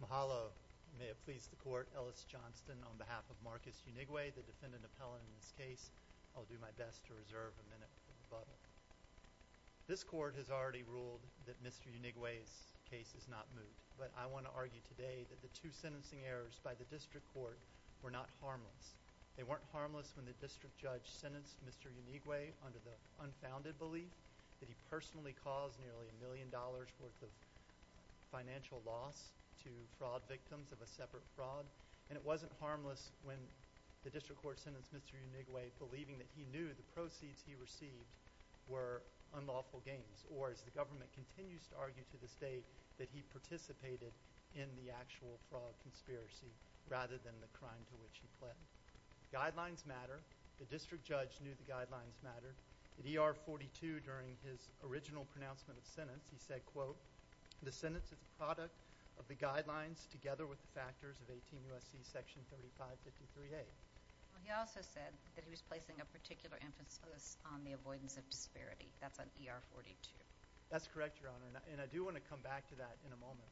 Mahalo. May it please the court, Ellis Johnston on behalf of Marcus Unigwe, the defendant appellant in this case. I'll do my best to reserve a minute for rebuttal. This court has already ruled that Mr. Unigwe's case is not moot, but I want to argue today that the two sentencing errors by the district court were not harmless. They weren't harmless when the district judge sentenced Mr. Unigwe under the unfounded belief that he personally caused nearly a million dollars' worth of financial loss to fraud victims of a separate fraud, and it wasn't harmless when the district court sentenced Mr. Unigwe believing that he knew the proceeds he received were unlawful gains, or as the government continues to argue to this day, that he participated in the actual fraud conspiracy rather than the crime to which he pled. Guidelines matter. The district judge knew the guidelines mattered. In ER 42 during his original pronouncement of sentence, he said, quote, the sentence is a product of the guidelines together with the factors of 18 U.S.C. section 3553A. He also said that he was placing a particular emphasis on the avoidance of disparity. That's on ER 42. That's correct, Your Honor, and I do want to come back to that in a moment.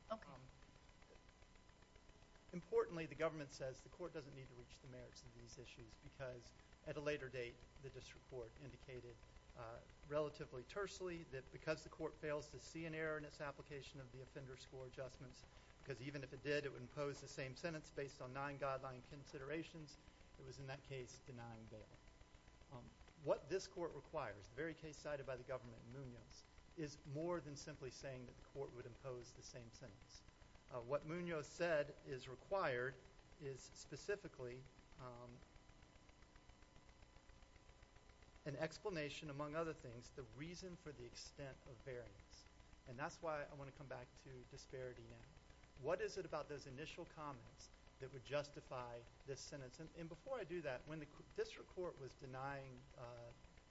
Importantly, the government says the court doesn't need to reach the merits of these issues because at a later date, the district court indicated relatively tersely that because the court fails to see an error in its application of the offender score adjustments, because even if it did, it would impose the same sentence based on nine guideline considerations, it was in that case denying bail. What this court requires, the very case cited by the government in Munoz, is more than simply saying that the court would impose the same sentence. What Munoz said is required is specifically an explanation, among other things, the reason for the extent of variance. That's why I want to come back to disparity now. What is it about those initial comments that would justify this sentence? Before I do that, when the district court was denying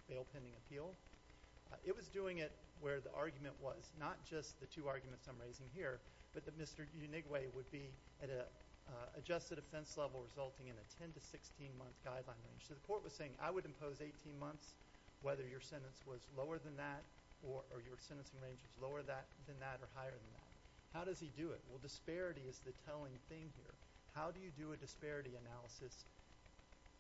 bail pending appeal, it was doing it where the argument was, not just the two arguments I'm raising here, but that Mr. Conway would be at an adjusted offense level resulting in a 10 to 16 month guideline range. The court was saying, I would impose 18 months whether your sentence was lower than that or your sentencing range was lower than that or higher than that. How does he do it? Disparity is the telling thing here. How do you do a disparity analysis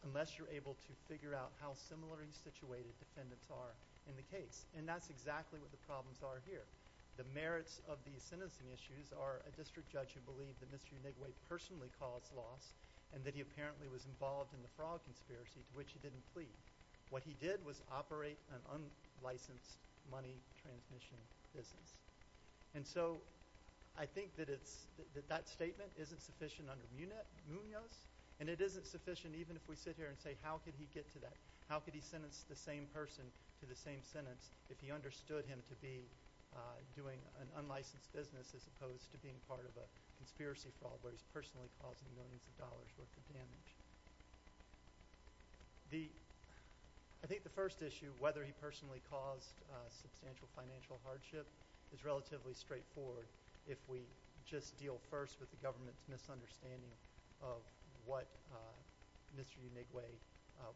unless you're able to figure out how similarly situated defendants are in the case? That's exactly what the problems are here. The merits of these sentencing issues are a district judge who believed that Mr. Unigwe personally caused loss and that he apparently was involved in the fraud conspiracy to which he didn't plead. What he did was operate an unlicensed money transmission business. I think that statement isn't sufficient under Munoz and it isn't sufficient even if we sit here and say, how could he get to that? How could he sentence the same person to the same sentence if he understood him to be doing an unlicensed business as opposed to being part of a conspiracy fraud where he's personally causing millions of dollars worth of damage? I think the first issue, whether he personally caused substantial financial hardship, is relatively straightforward if we just deal first with the government's misunderstanding of what Mr. Unigwe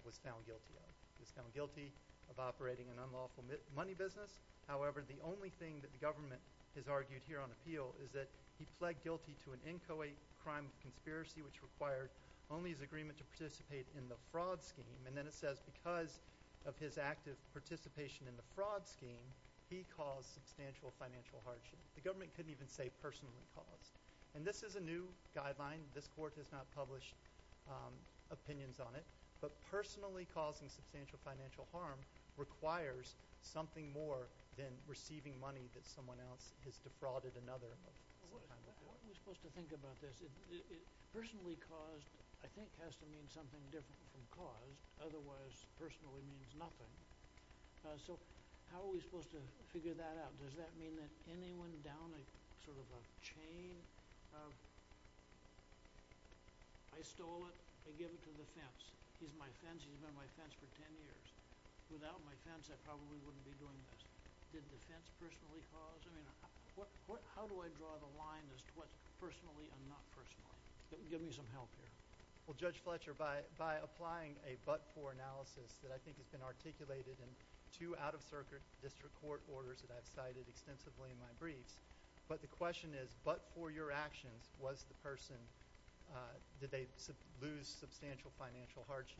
was found guilty of. He was found guilty of operating an unlawful money business. However, the only thing that the government has argued here on appeal is that he pled guilty to an inchoate crime conspiracy which required only his agreement to participate in the fraud scheme. Then it says because of his active participation in the fraud scheme, he caused substantial financial hardship. The government couldn't even say personally caused. This is a new guideline. This court has not published opinions on it. But personally causing substantial financial harm requires something more than receiving money that someone else has defrauded another. How are we supposed to think about this? Personally caused, I think, has to mean something different from caused. Otherwise, personally means nothing. How are we supposed to figure that out? Does that mean that anyone down a chain of I stole it, I give it to the fence. He's my fence. He's been my fence for 10 years. Without my fence, I probably wouldn't be doing this. Did the fence personally cause? How do I draw the line as to what's personally and not personally? Give me some help here. Judge Fletcher, by applying a but-for analysis that I think has been articulated in two out-of-circuit district court orders that I've cited extensively in my briefs. But the question is, but for your actions, was the person, did they lose substantial financial hardship?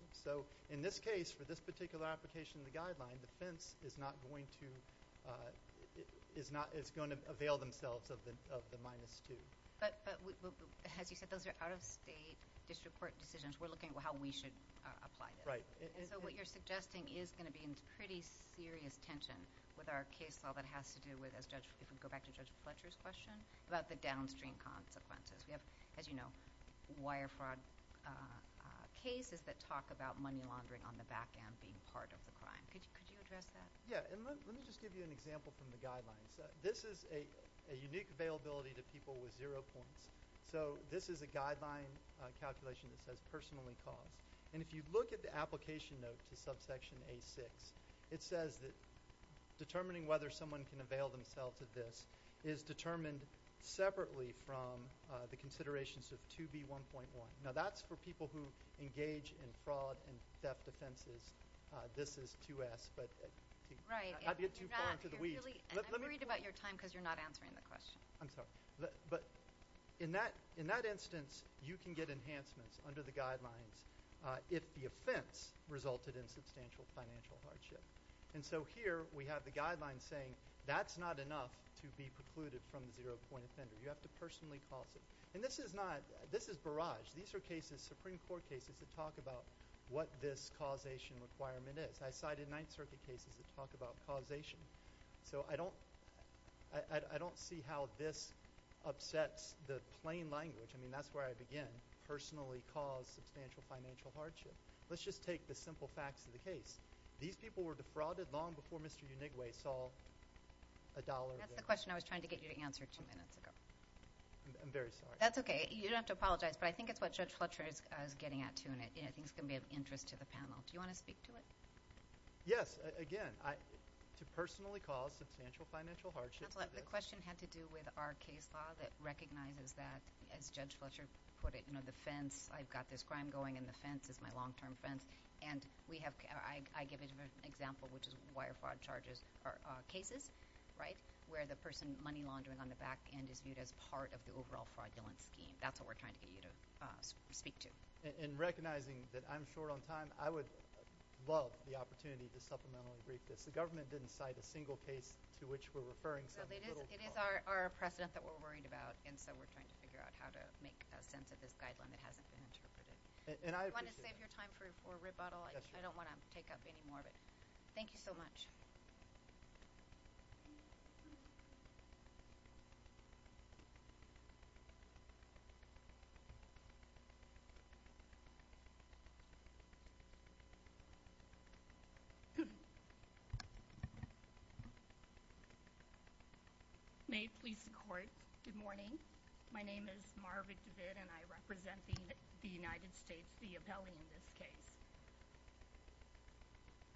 In this case, for this particular application of the guideline, the fence is not going to, is going to avail themselves of the minus two. But as you said, those are out-of-state district court decisions. We're looking at how we should apply this. So what you're suggesting is going to be in pretty serious tension with our case law that has to do with, if we go back to Judge Fletcher's question, about the downstream consequences. We have, as you know, wire fraud cases that talk about money laundering on the back end being part of the crime. Could you address that? Yeah. And let me just give you an example from the guidelines. This is a unique availability to people with zero points. So this is a guideline calculation that says personally caused. And if you look at the application note to subsection A6, it says that determining whether someone can avail themselves of this is determined separately from the considerations of 2B1.1. Now that's for people who engage in fraud and theft offenses. This is 2S, but I'd get too far into the weeds. I'm worried about your time because you're not answering the question. I'm sorry. But in that instance, you can get enhancements under the guidelines if the offense resulted in substantial financial hardship. And so here we have the guidelines saying that's not enough to be precluded from the zero point offender. You have to personally cause it. And this is not – this is barrage. These are cases, Supreme Court cases, that talk about what this causation requirement is. I cited Ninth Circuit cases that talk about causation. So I don't – I don't see how this upsets the plain language. I mean, that's where I begin – personally cause substantial financial hardship. Let's just take the simple facts of the case. These people were defrauded long before Mr. Unigwe saw a dollar there. That's the question I was trying to get you to answer two minutes ago. I'm very sorry. That's okay. You don't have to apologize. But I think it's what Judge Fletcher is getting at, too. And I think it's going to be of interest to the panel. Do you want to speak to it? Yes. Again, to personally cause substantial financial hardship – Counselor, the question had to do with our case law that recognizes that, as Judge Fletcher put it, you know, the fence. I've got this crime going, and the fence is my long-term fence. And we have – I give an example, which is wire fraud charges – or cases, right, where the person money laundering on the back end is viewed as part of the overall fraudulent scheme. That's what we're trying to get you to speak to. In recognizing that I'm short on time, I would love the opportunity to supplementally brief this. The government didn't cite a single case to which we're referring something little. It is our precedent that we're worried about, and so we're trying to figure out how to make a sense of this guideline that hasn't been interpreted. And I appreciate that. If you want to save your time for rebuttal, I don't want to take up any more of it. Thank you so much. May it please the Court, good morning. My name is Marvick DeVitt, and I represent the United States, the appellee in this case.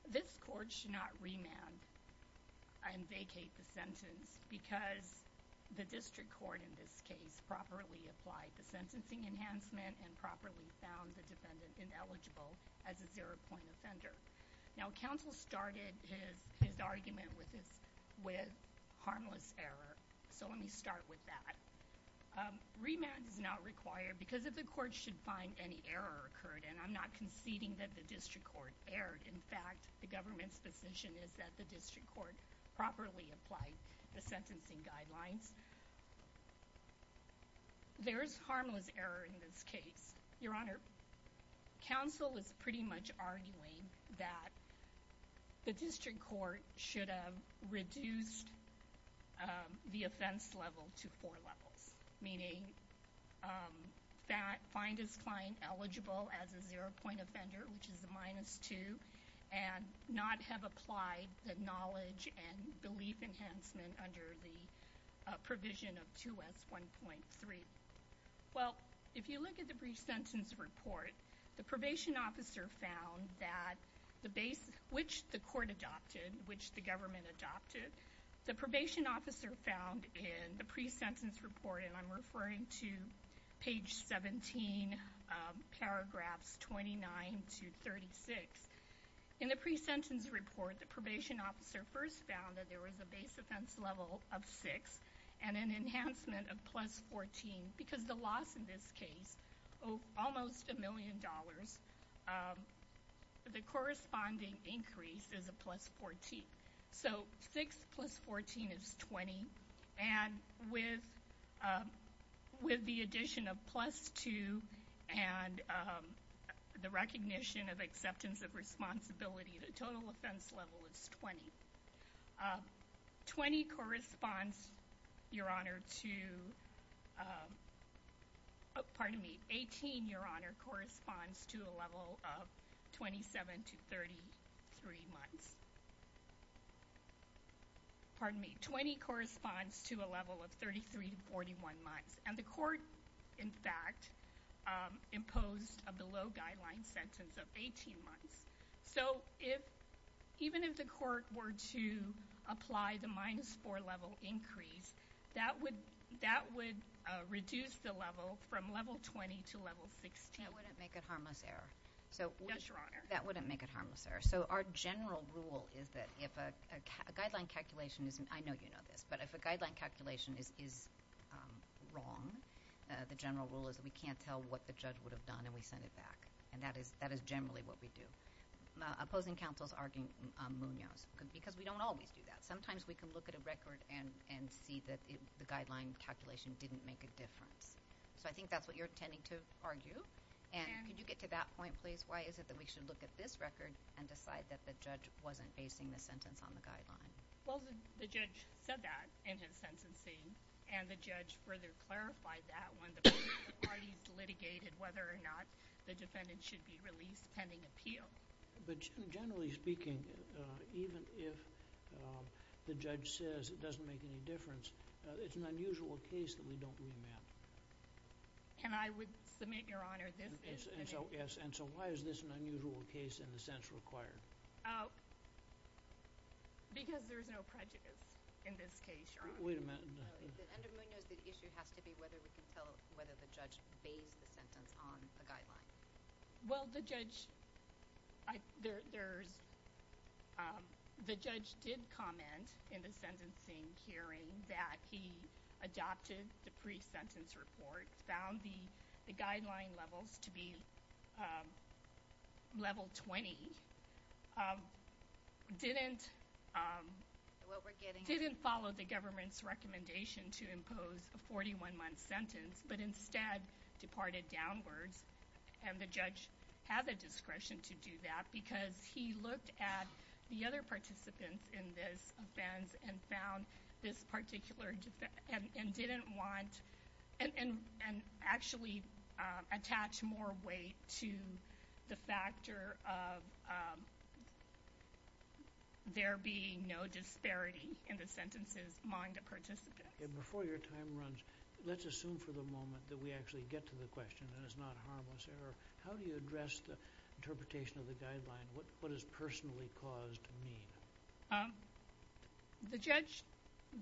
This Court should not remand and vacate the sentence, because the district court in this case properly applied the sentencing enhancement and properly found the defendant ineligible as a zero-point offender. Now, counsel started his argument with harmless error, so let me start with that. Remand is not required because if the court should find any error occurred, and I'm not conceding that the district court erred. In fact, the government's position is that the district court properly applied the sentencing guidelines. There is harmless error in this case. Your Honor, counsel is pretty much arguing that the district court should have reduced the offense level to four levels, meaning find his client eligible as a zero-point offender, which is a minus two, and not have applied the knowledge and belief enhancement under the provision of 2S1.3. Well, if you look at the pre-sentence report, the probation officer found that, which the court adopted, which the government adopted, the probation officer found in the pre-sentence report, and I'm referring to page 17, paragraphs 29 to 36, in the pre-sentence report, the probation officer first found that there was a base offense level of six and an enhancement of plus 14, because the loss in this case, almost a million dollars, the corresponding increase is a plus 14. So, six plus 14 is 20, and with the addition of plus two and the recognition of acceptance of responsibility, the total offense level is 20. 20 corresponds, Your Honor, to, pardon me, 18, Your Honor, corresponds to a level of 27 to 33 months. Pardon me, 20 corresponds to a level of 33 to 41 months. And the court, in fact, imposed a below-guideline sentence of 18 months. So, even if the court were to apply the minus four level increase, that would reduce the level from level 20 to level 16. That wouldn't make it harmless error. Yes, Your Honor. That wouldn't make it harmless error. So, our general rule is that if a guideline calculation is, I know you know this, but if a guideline calculation is wrong, the general rule is that we can't tell what the judge would have done and we send it back. And that is generally what we do. Opposing counsel is arguing Munoz, because we don't always do that. Sometimes we can look at a record and see that the guideline calculation didn't make a difference. So, I think that's what you're intending to argue. And could you get to that point, please? Why is it that we should look at this record and decide that the judge wasn't basing the sentence on the guideline? Well, the judge said that in his sentencing. And the judge further clarified that when the parties litigated whether or not the defendant should be released pending appeal. But generally speaking, even if the judge says it doesn't make any difference, it's an unusual case that we don't remand. And I would submit, Your Honor, this is the case. And so, why is this an unusual case in the sense required? Because there's no prejudice in this case, Your Honor. Wait a minute. Under Munoz, the issue has to be whether we can tell whether the judge based the sentence on a guideline. Well, the judge did comment in the sentencing hearing that he adopted the pre-sentence report, found the guideline levels to be level 20, didn't follow the government's recommendation to impose a 41-month sentence, but instead departed downwards. And the judge had the discretion to do that because he looked at the other participants in this offense and found this particular defense and didn't want, and actually attached more weight to the factor of there being no disparity in the sentences among the participants. And before your time runs, let's assume for the moment that we actually get to the question and it's not harmless error. How do you address the interpretation of the guideline? What does personally caused mean? The judge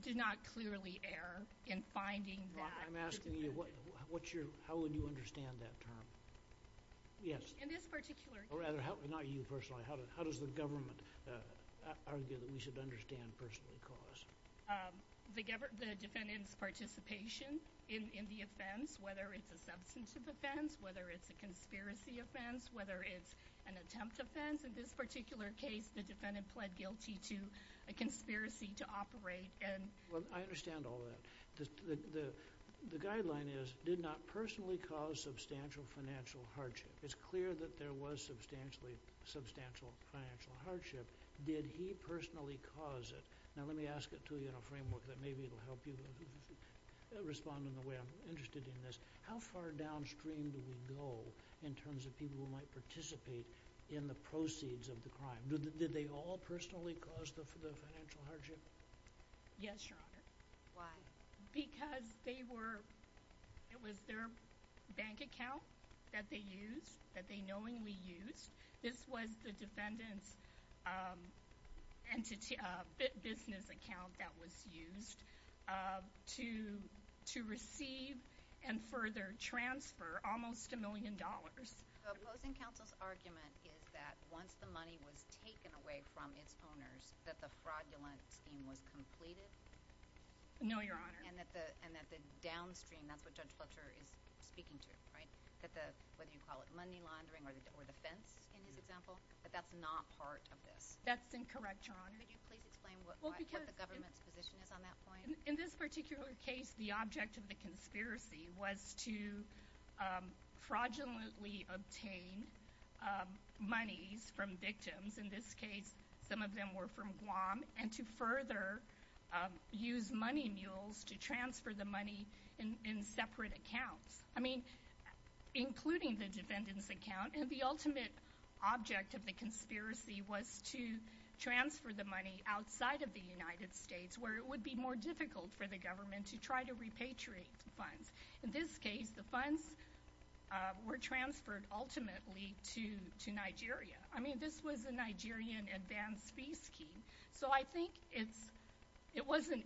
did not clearly err in finding that. I'm asking you, how would you understand that term? Yes. In this particular case. Or rather, not you personally. How does the government argue that we should understand personally caused? The defendant's participation in the offense, whether it's a substantive offense, whether it's a conspiracy offense, whether it's an attempt offense. In this particular case, the defendant pled guilty to a conspiracy to operate. Well, I understand all that. The guideline is, did not personally cause substantial financial hardship. It's clear that there was substantial financial hardship. Did he personally cause it? Now let me ask it to you in a framework that maybe it'll help you respond in the way I'm interested in this. How far downstream do we go in terms of people who might participate in the proceeds of the crime? Did they all personally cause the financial hardship? Yes, Your Honor. Why? Because they were, it was their bank account that they used, that they knowingly used. This was the defendant's business account that was used to receive and further transfer almost a million dollars. What was in counsel's argument is that once the money was taken away from its owners, that the fraudulent scheme was completed? No, Your Honor. And that the downstream, that's what Judge Fletcher is speaking to, right? Whether you call it money laundering or the fence in his example, but that's not part of this. That's incorrect, Your Honor. Could you please explain what the government's position is on that point? In this particular case, the object of the conspiracy was to fraudulently obtain monies from victims. In this case, some of them were from Guam. And to further use money mules to transfer the money in separate accounts. I mean, including the defendant's account. And the ultimate object of the conspiracy was to transfer the money outside of the United States, where it would be more difficult for the government to try to repatriate the funds. In this case, the funds were transferred ultimately to Nigeria. I mean, this was a Nigerian advanced fee scheme. So I think it was a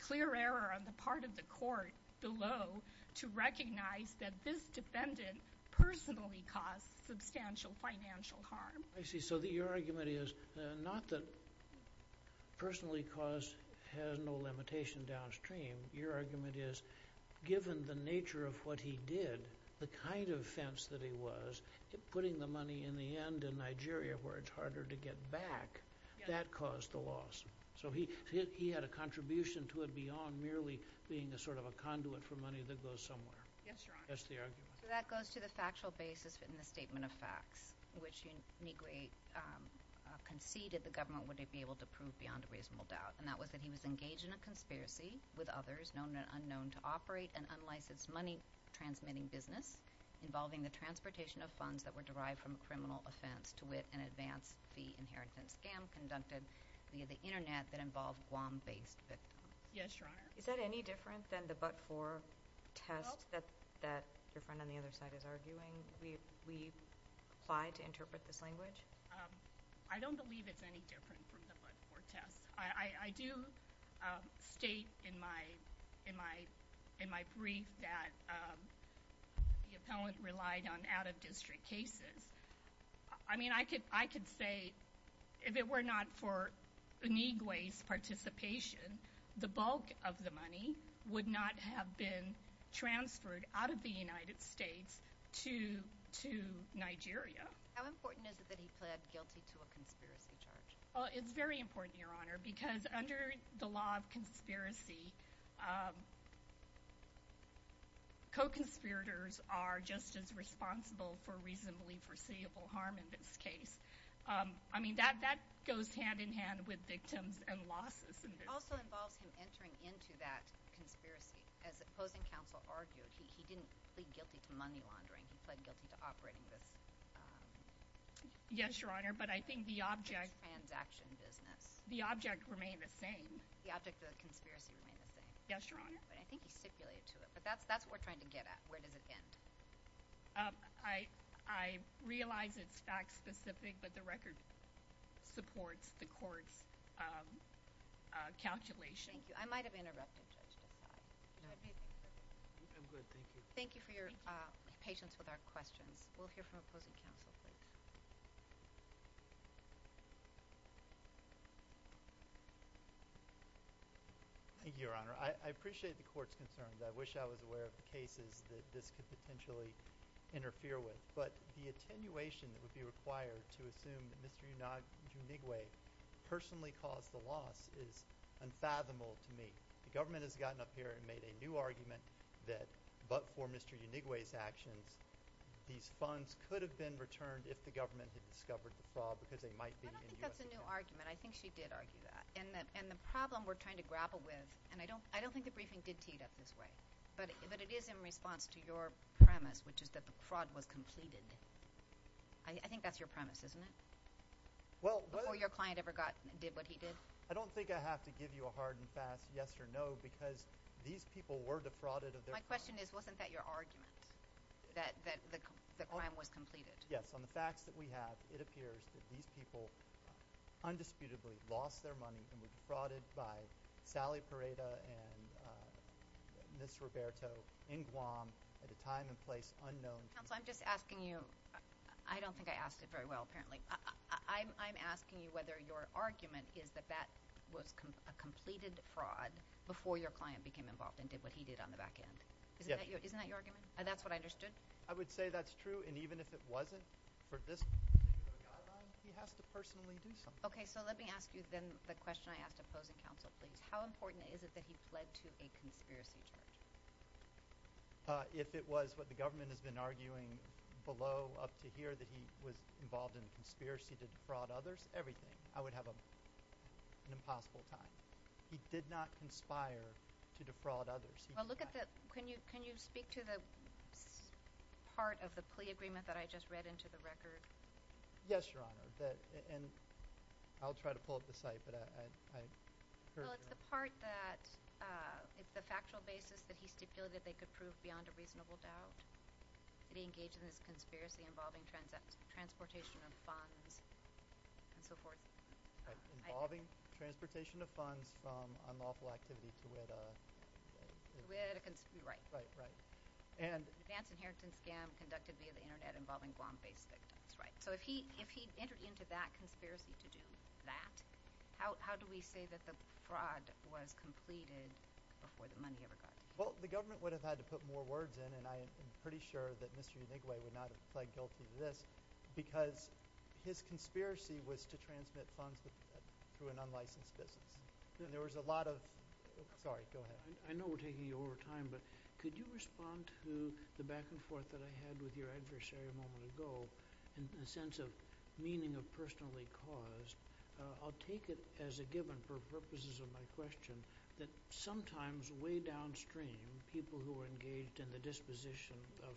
clear error on the part of the court below to recognize that this defendant personally caused substantial financial harm. I see. So your argument is not that personally caused has no limitation downstream. Your argument is, given the nature of what he did, the kind of fence that he was, putting the money in the end in Nigeria, where it's harder to get back, that caused the loss. So he had a contribution to it beyond merely being a sort of a conduit for money that goes somewhere. Yes, Your Honor. That's the argument. So that goes to the factual basis in the statement of facts, which uniquely conceded the government would be able to prove beyond a reasonable doubt. And that was that he was engaged in a conspiracy with others, known and unknown, to operate an unlicensed money-transmitting business, involving the transportation of funds that were derived from a criminal offense to wit an advanced fee inheritance scam conducted via the Internet that involved Guam-based victims. Yes, Your Honor. Is that any different than the but-for test that your friend on the other side is arguing? We apply to interpret this language? I don't believe it's any different from the but-for test. I do state in my brief that the appellant relied on out-of-district cases. I mean, I could say if it were not for Inigwe's participation, the bulk of the money would not have been transferred out of the United States to Nigeria. How important is it that he pled guilty to a conspiracy charge? It's very important, Your Honor, because under the law of conspiracy, co-conspirators are just as responsible for reasonably foreseeable harm in this case. I mean, that goes hand-in-hand with victims and losses. It also involves him entering into that conspiracy. As opposing counsel argued, he didn't plead guilty to money laundering. He pled guilty to operating this... Yes, Your Honor, but I think the object... ...this transaction business... The object remained the same. The object of the conspiracy remained the same. Yes, Your Honor. But I think he stipulated to it. But that's what we're trying to get at. Where does it end? I realize it's fact-specific, but the record supports the court's calculation. Thank you. I might have interrupted Judge Desai. I'm good, thank you. Thank you for your patience with our questions. We'll hear from opposing counsel. Thank you, Your Honor. I appreciate the court's concerns. I wish I was aware of the cases that this could potentially interfere with. But the attenuation that would be required to assume that Mr. Unigwe personally caused the loss is unfathomable to me. The government has gotten up here and made a new argument that, but for Mr. Unigwe's actions, these funds could have been returned if the government had discovered the fraud, because they might be... I don't think that's a new argument. I think she did argue that. And the problem we're trying to grapple with, and I don't think the briefing did tee it up this way, but it is in response to your premise, which is that the fraud was completed. I think that's your premise, isn't it? Before your client ever did what he did? I don't think I have to give you a hard and fast yes or no, because these people were defrauded of their funds. My question is, wasn't that your argument, that the crime was completed? Yes. On the facts that we have, it appears that these people undisputably lost their money and were defrauded by Sally Pareda and Ms. Roberto in Guam at a time and place unknown. Counsel, I'm just asking you, I don't think I asked it very well, apparently. I'm asking you whether your argument is that that was a completed fraud before your client became involved and did what he did on the back end. Isn't that your argument? And that's what I understood? I would say that's true, and even if it wasn't, for this particular guideline, he has to personally do something. Okay, so let me ask you then the question I asked opposing counsel, please. How important is it that he pled to a conspiracy charge? If it was what the government has been arguing below, up to here, that he was involved in a conspiracy to defraud others, everything. I would have an impossible time. He did not conspire to defraud others. Can you speak to the part of the plea agreement that I just read into the record? Yes, Your Honor, and I'll try to pull up the site. Well, it's the part that, it's the factual basis that he stipulated they could prove beyond a reasonable doubt that he engaged in this conspiracy involving transportation of funds and so forth. Involving transportation of funds from unlawful activity to whet a – To whet a – right. Right, right. An advance inheritance scam conducted via the Internet involving Guam-based victims. So if he entered into that conspiracy to do that, how do we say that the fraud was completed before the money ever got to him? Well, the government would have had to put more words in, and I am pretty sure that Mr. Yanigwe would not have pled guilty to this, because his conspiracy was to transmit funds through an unlicensed business. And there was a lot of – sorry, go ahead. I know we're taking you over time, but could you respond to the back and forth that I had with your adversary a moment ago in the sense of meaning of personally caused? I'll take it as a given for purposes of my question that sometimes way downstream, people who are engaged in the disposition of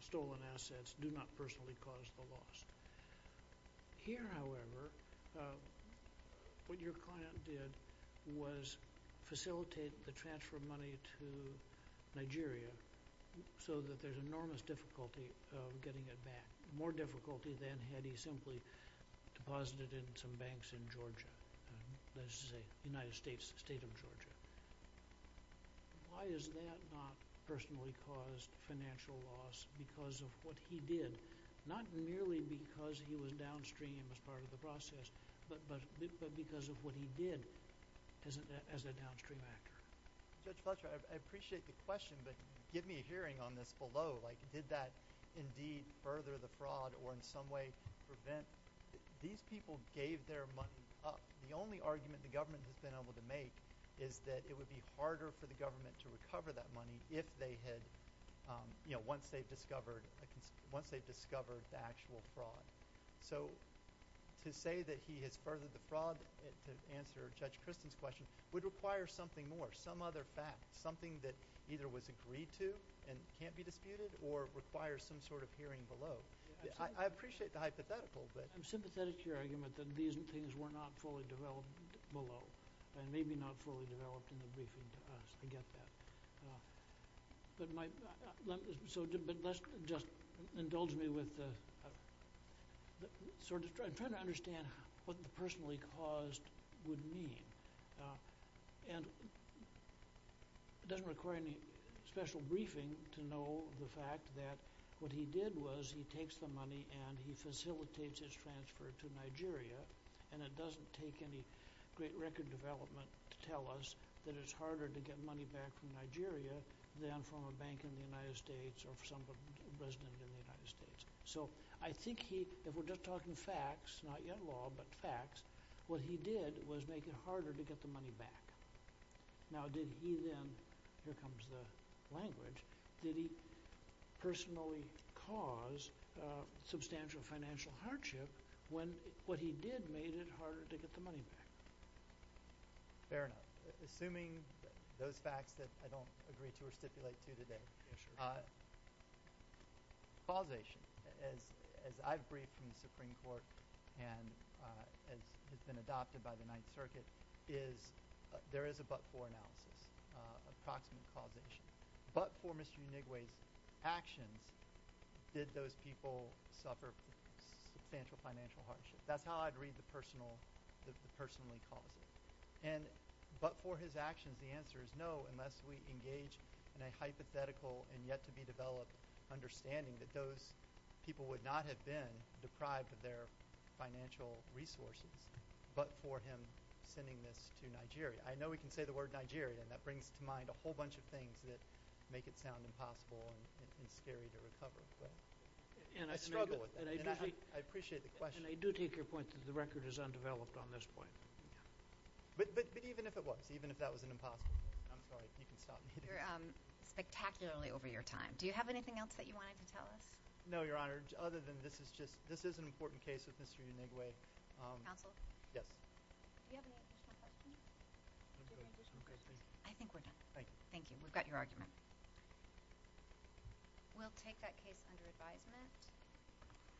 stolen assets do not personally cause the loss. Here, however, what your client did was facilitate the transfer of money to Nigeria so that there's enormous difficulty of getting it back. More difficulty than had he simply deposited it in some banks in Georgia. Let's just say the United States, the state of Georgia. Why has that not personally caused financial loss because of what he did? Not merely because he was downstream as part of the process, but because of what he did as a downstream actor. Judge Fletcher, I appreciate the question, but give me a hearing on this below. Like, did that indeed further the fraud or in some way prevent – these people gave their money up. The only argument the government has been able to make is that it would be harder for the government to recover that money if they had – once they've discovered the actual fraud. So to say that he has furthered the fraud to answer Judge Christen's question would require something more, some other fact, something that either was agreed to and can't be disputed or requires some sort of hearing below. I appreciate the hypothetical, but – It's a pathetic argument that these things were not fully developed below and maybe not fully developed in the briefing. I get that. But let's just – indulge me with the – I'm trying to understand what the personally caused would mean. And it doesn't require any special briefing to know the fact that what he did was he takes the money and he facilitates his transfer to Nigeria and it doesn't take any great record development to tell us that it's harder to get money back from Nigeria than from a bank in the United States or some resident in the United States. So I think he – if we're just talking facts, not yet law, but facts, what he did was make it harder to get the money back. Now did he then – here comes the language – did he personally cause substantial financial hardship when what he did made it harder to get the money back? Fair enough. Assuming those facts that I don't agree to or stipulate to today. Causation, as I've briefed from the Supreme Court and has been adopted by the Ninth Circuit, is there is a but-for analysis, approximate causation. But for Mr. Unigwe's actions, did those people suffer substantial financial hardship? That's how I'd read the personal – the personally caused. And but for his actions, the answer is no, unless we engage in a hypothetical and yet-to-be-developed understanding that those people would not have been deprived of their financial resources, but for him sending this to Nigeria. I know we can say the word Nigeria, and that brings to mind a whole bunch of things that make it sound impossible and scary to recover. I struggle with that. I appreciate the question. And I do take your point that the record is undeveloped on this point. But even if it was, even if that was an impossible – I'm sorry, you can stop me. You're spectacularly over your time. Do you have anything else that you wanted to tell us? No, Your Honor, other than this is just – this is an important case with Mr. Unigwe. Counsel? Yes. Do you have any additional questions? I think we're done. Thank you. We've got your argument. We'll take that case under advisement.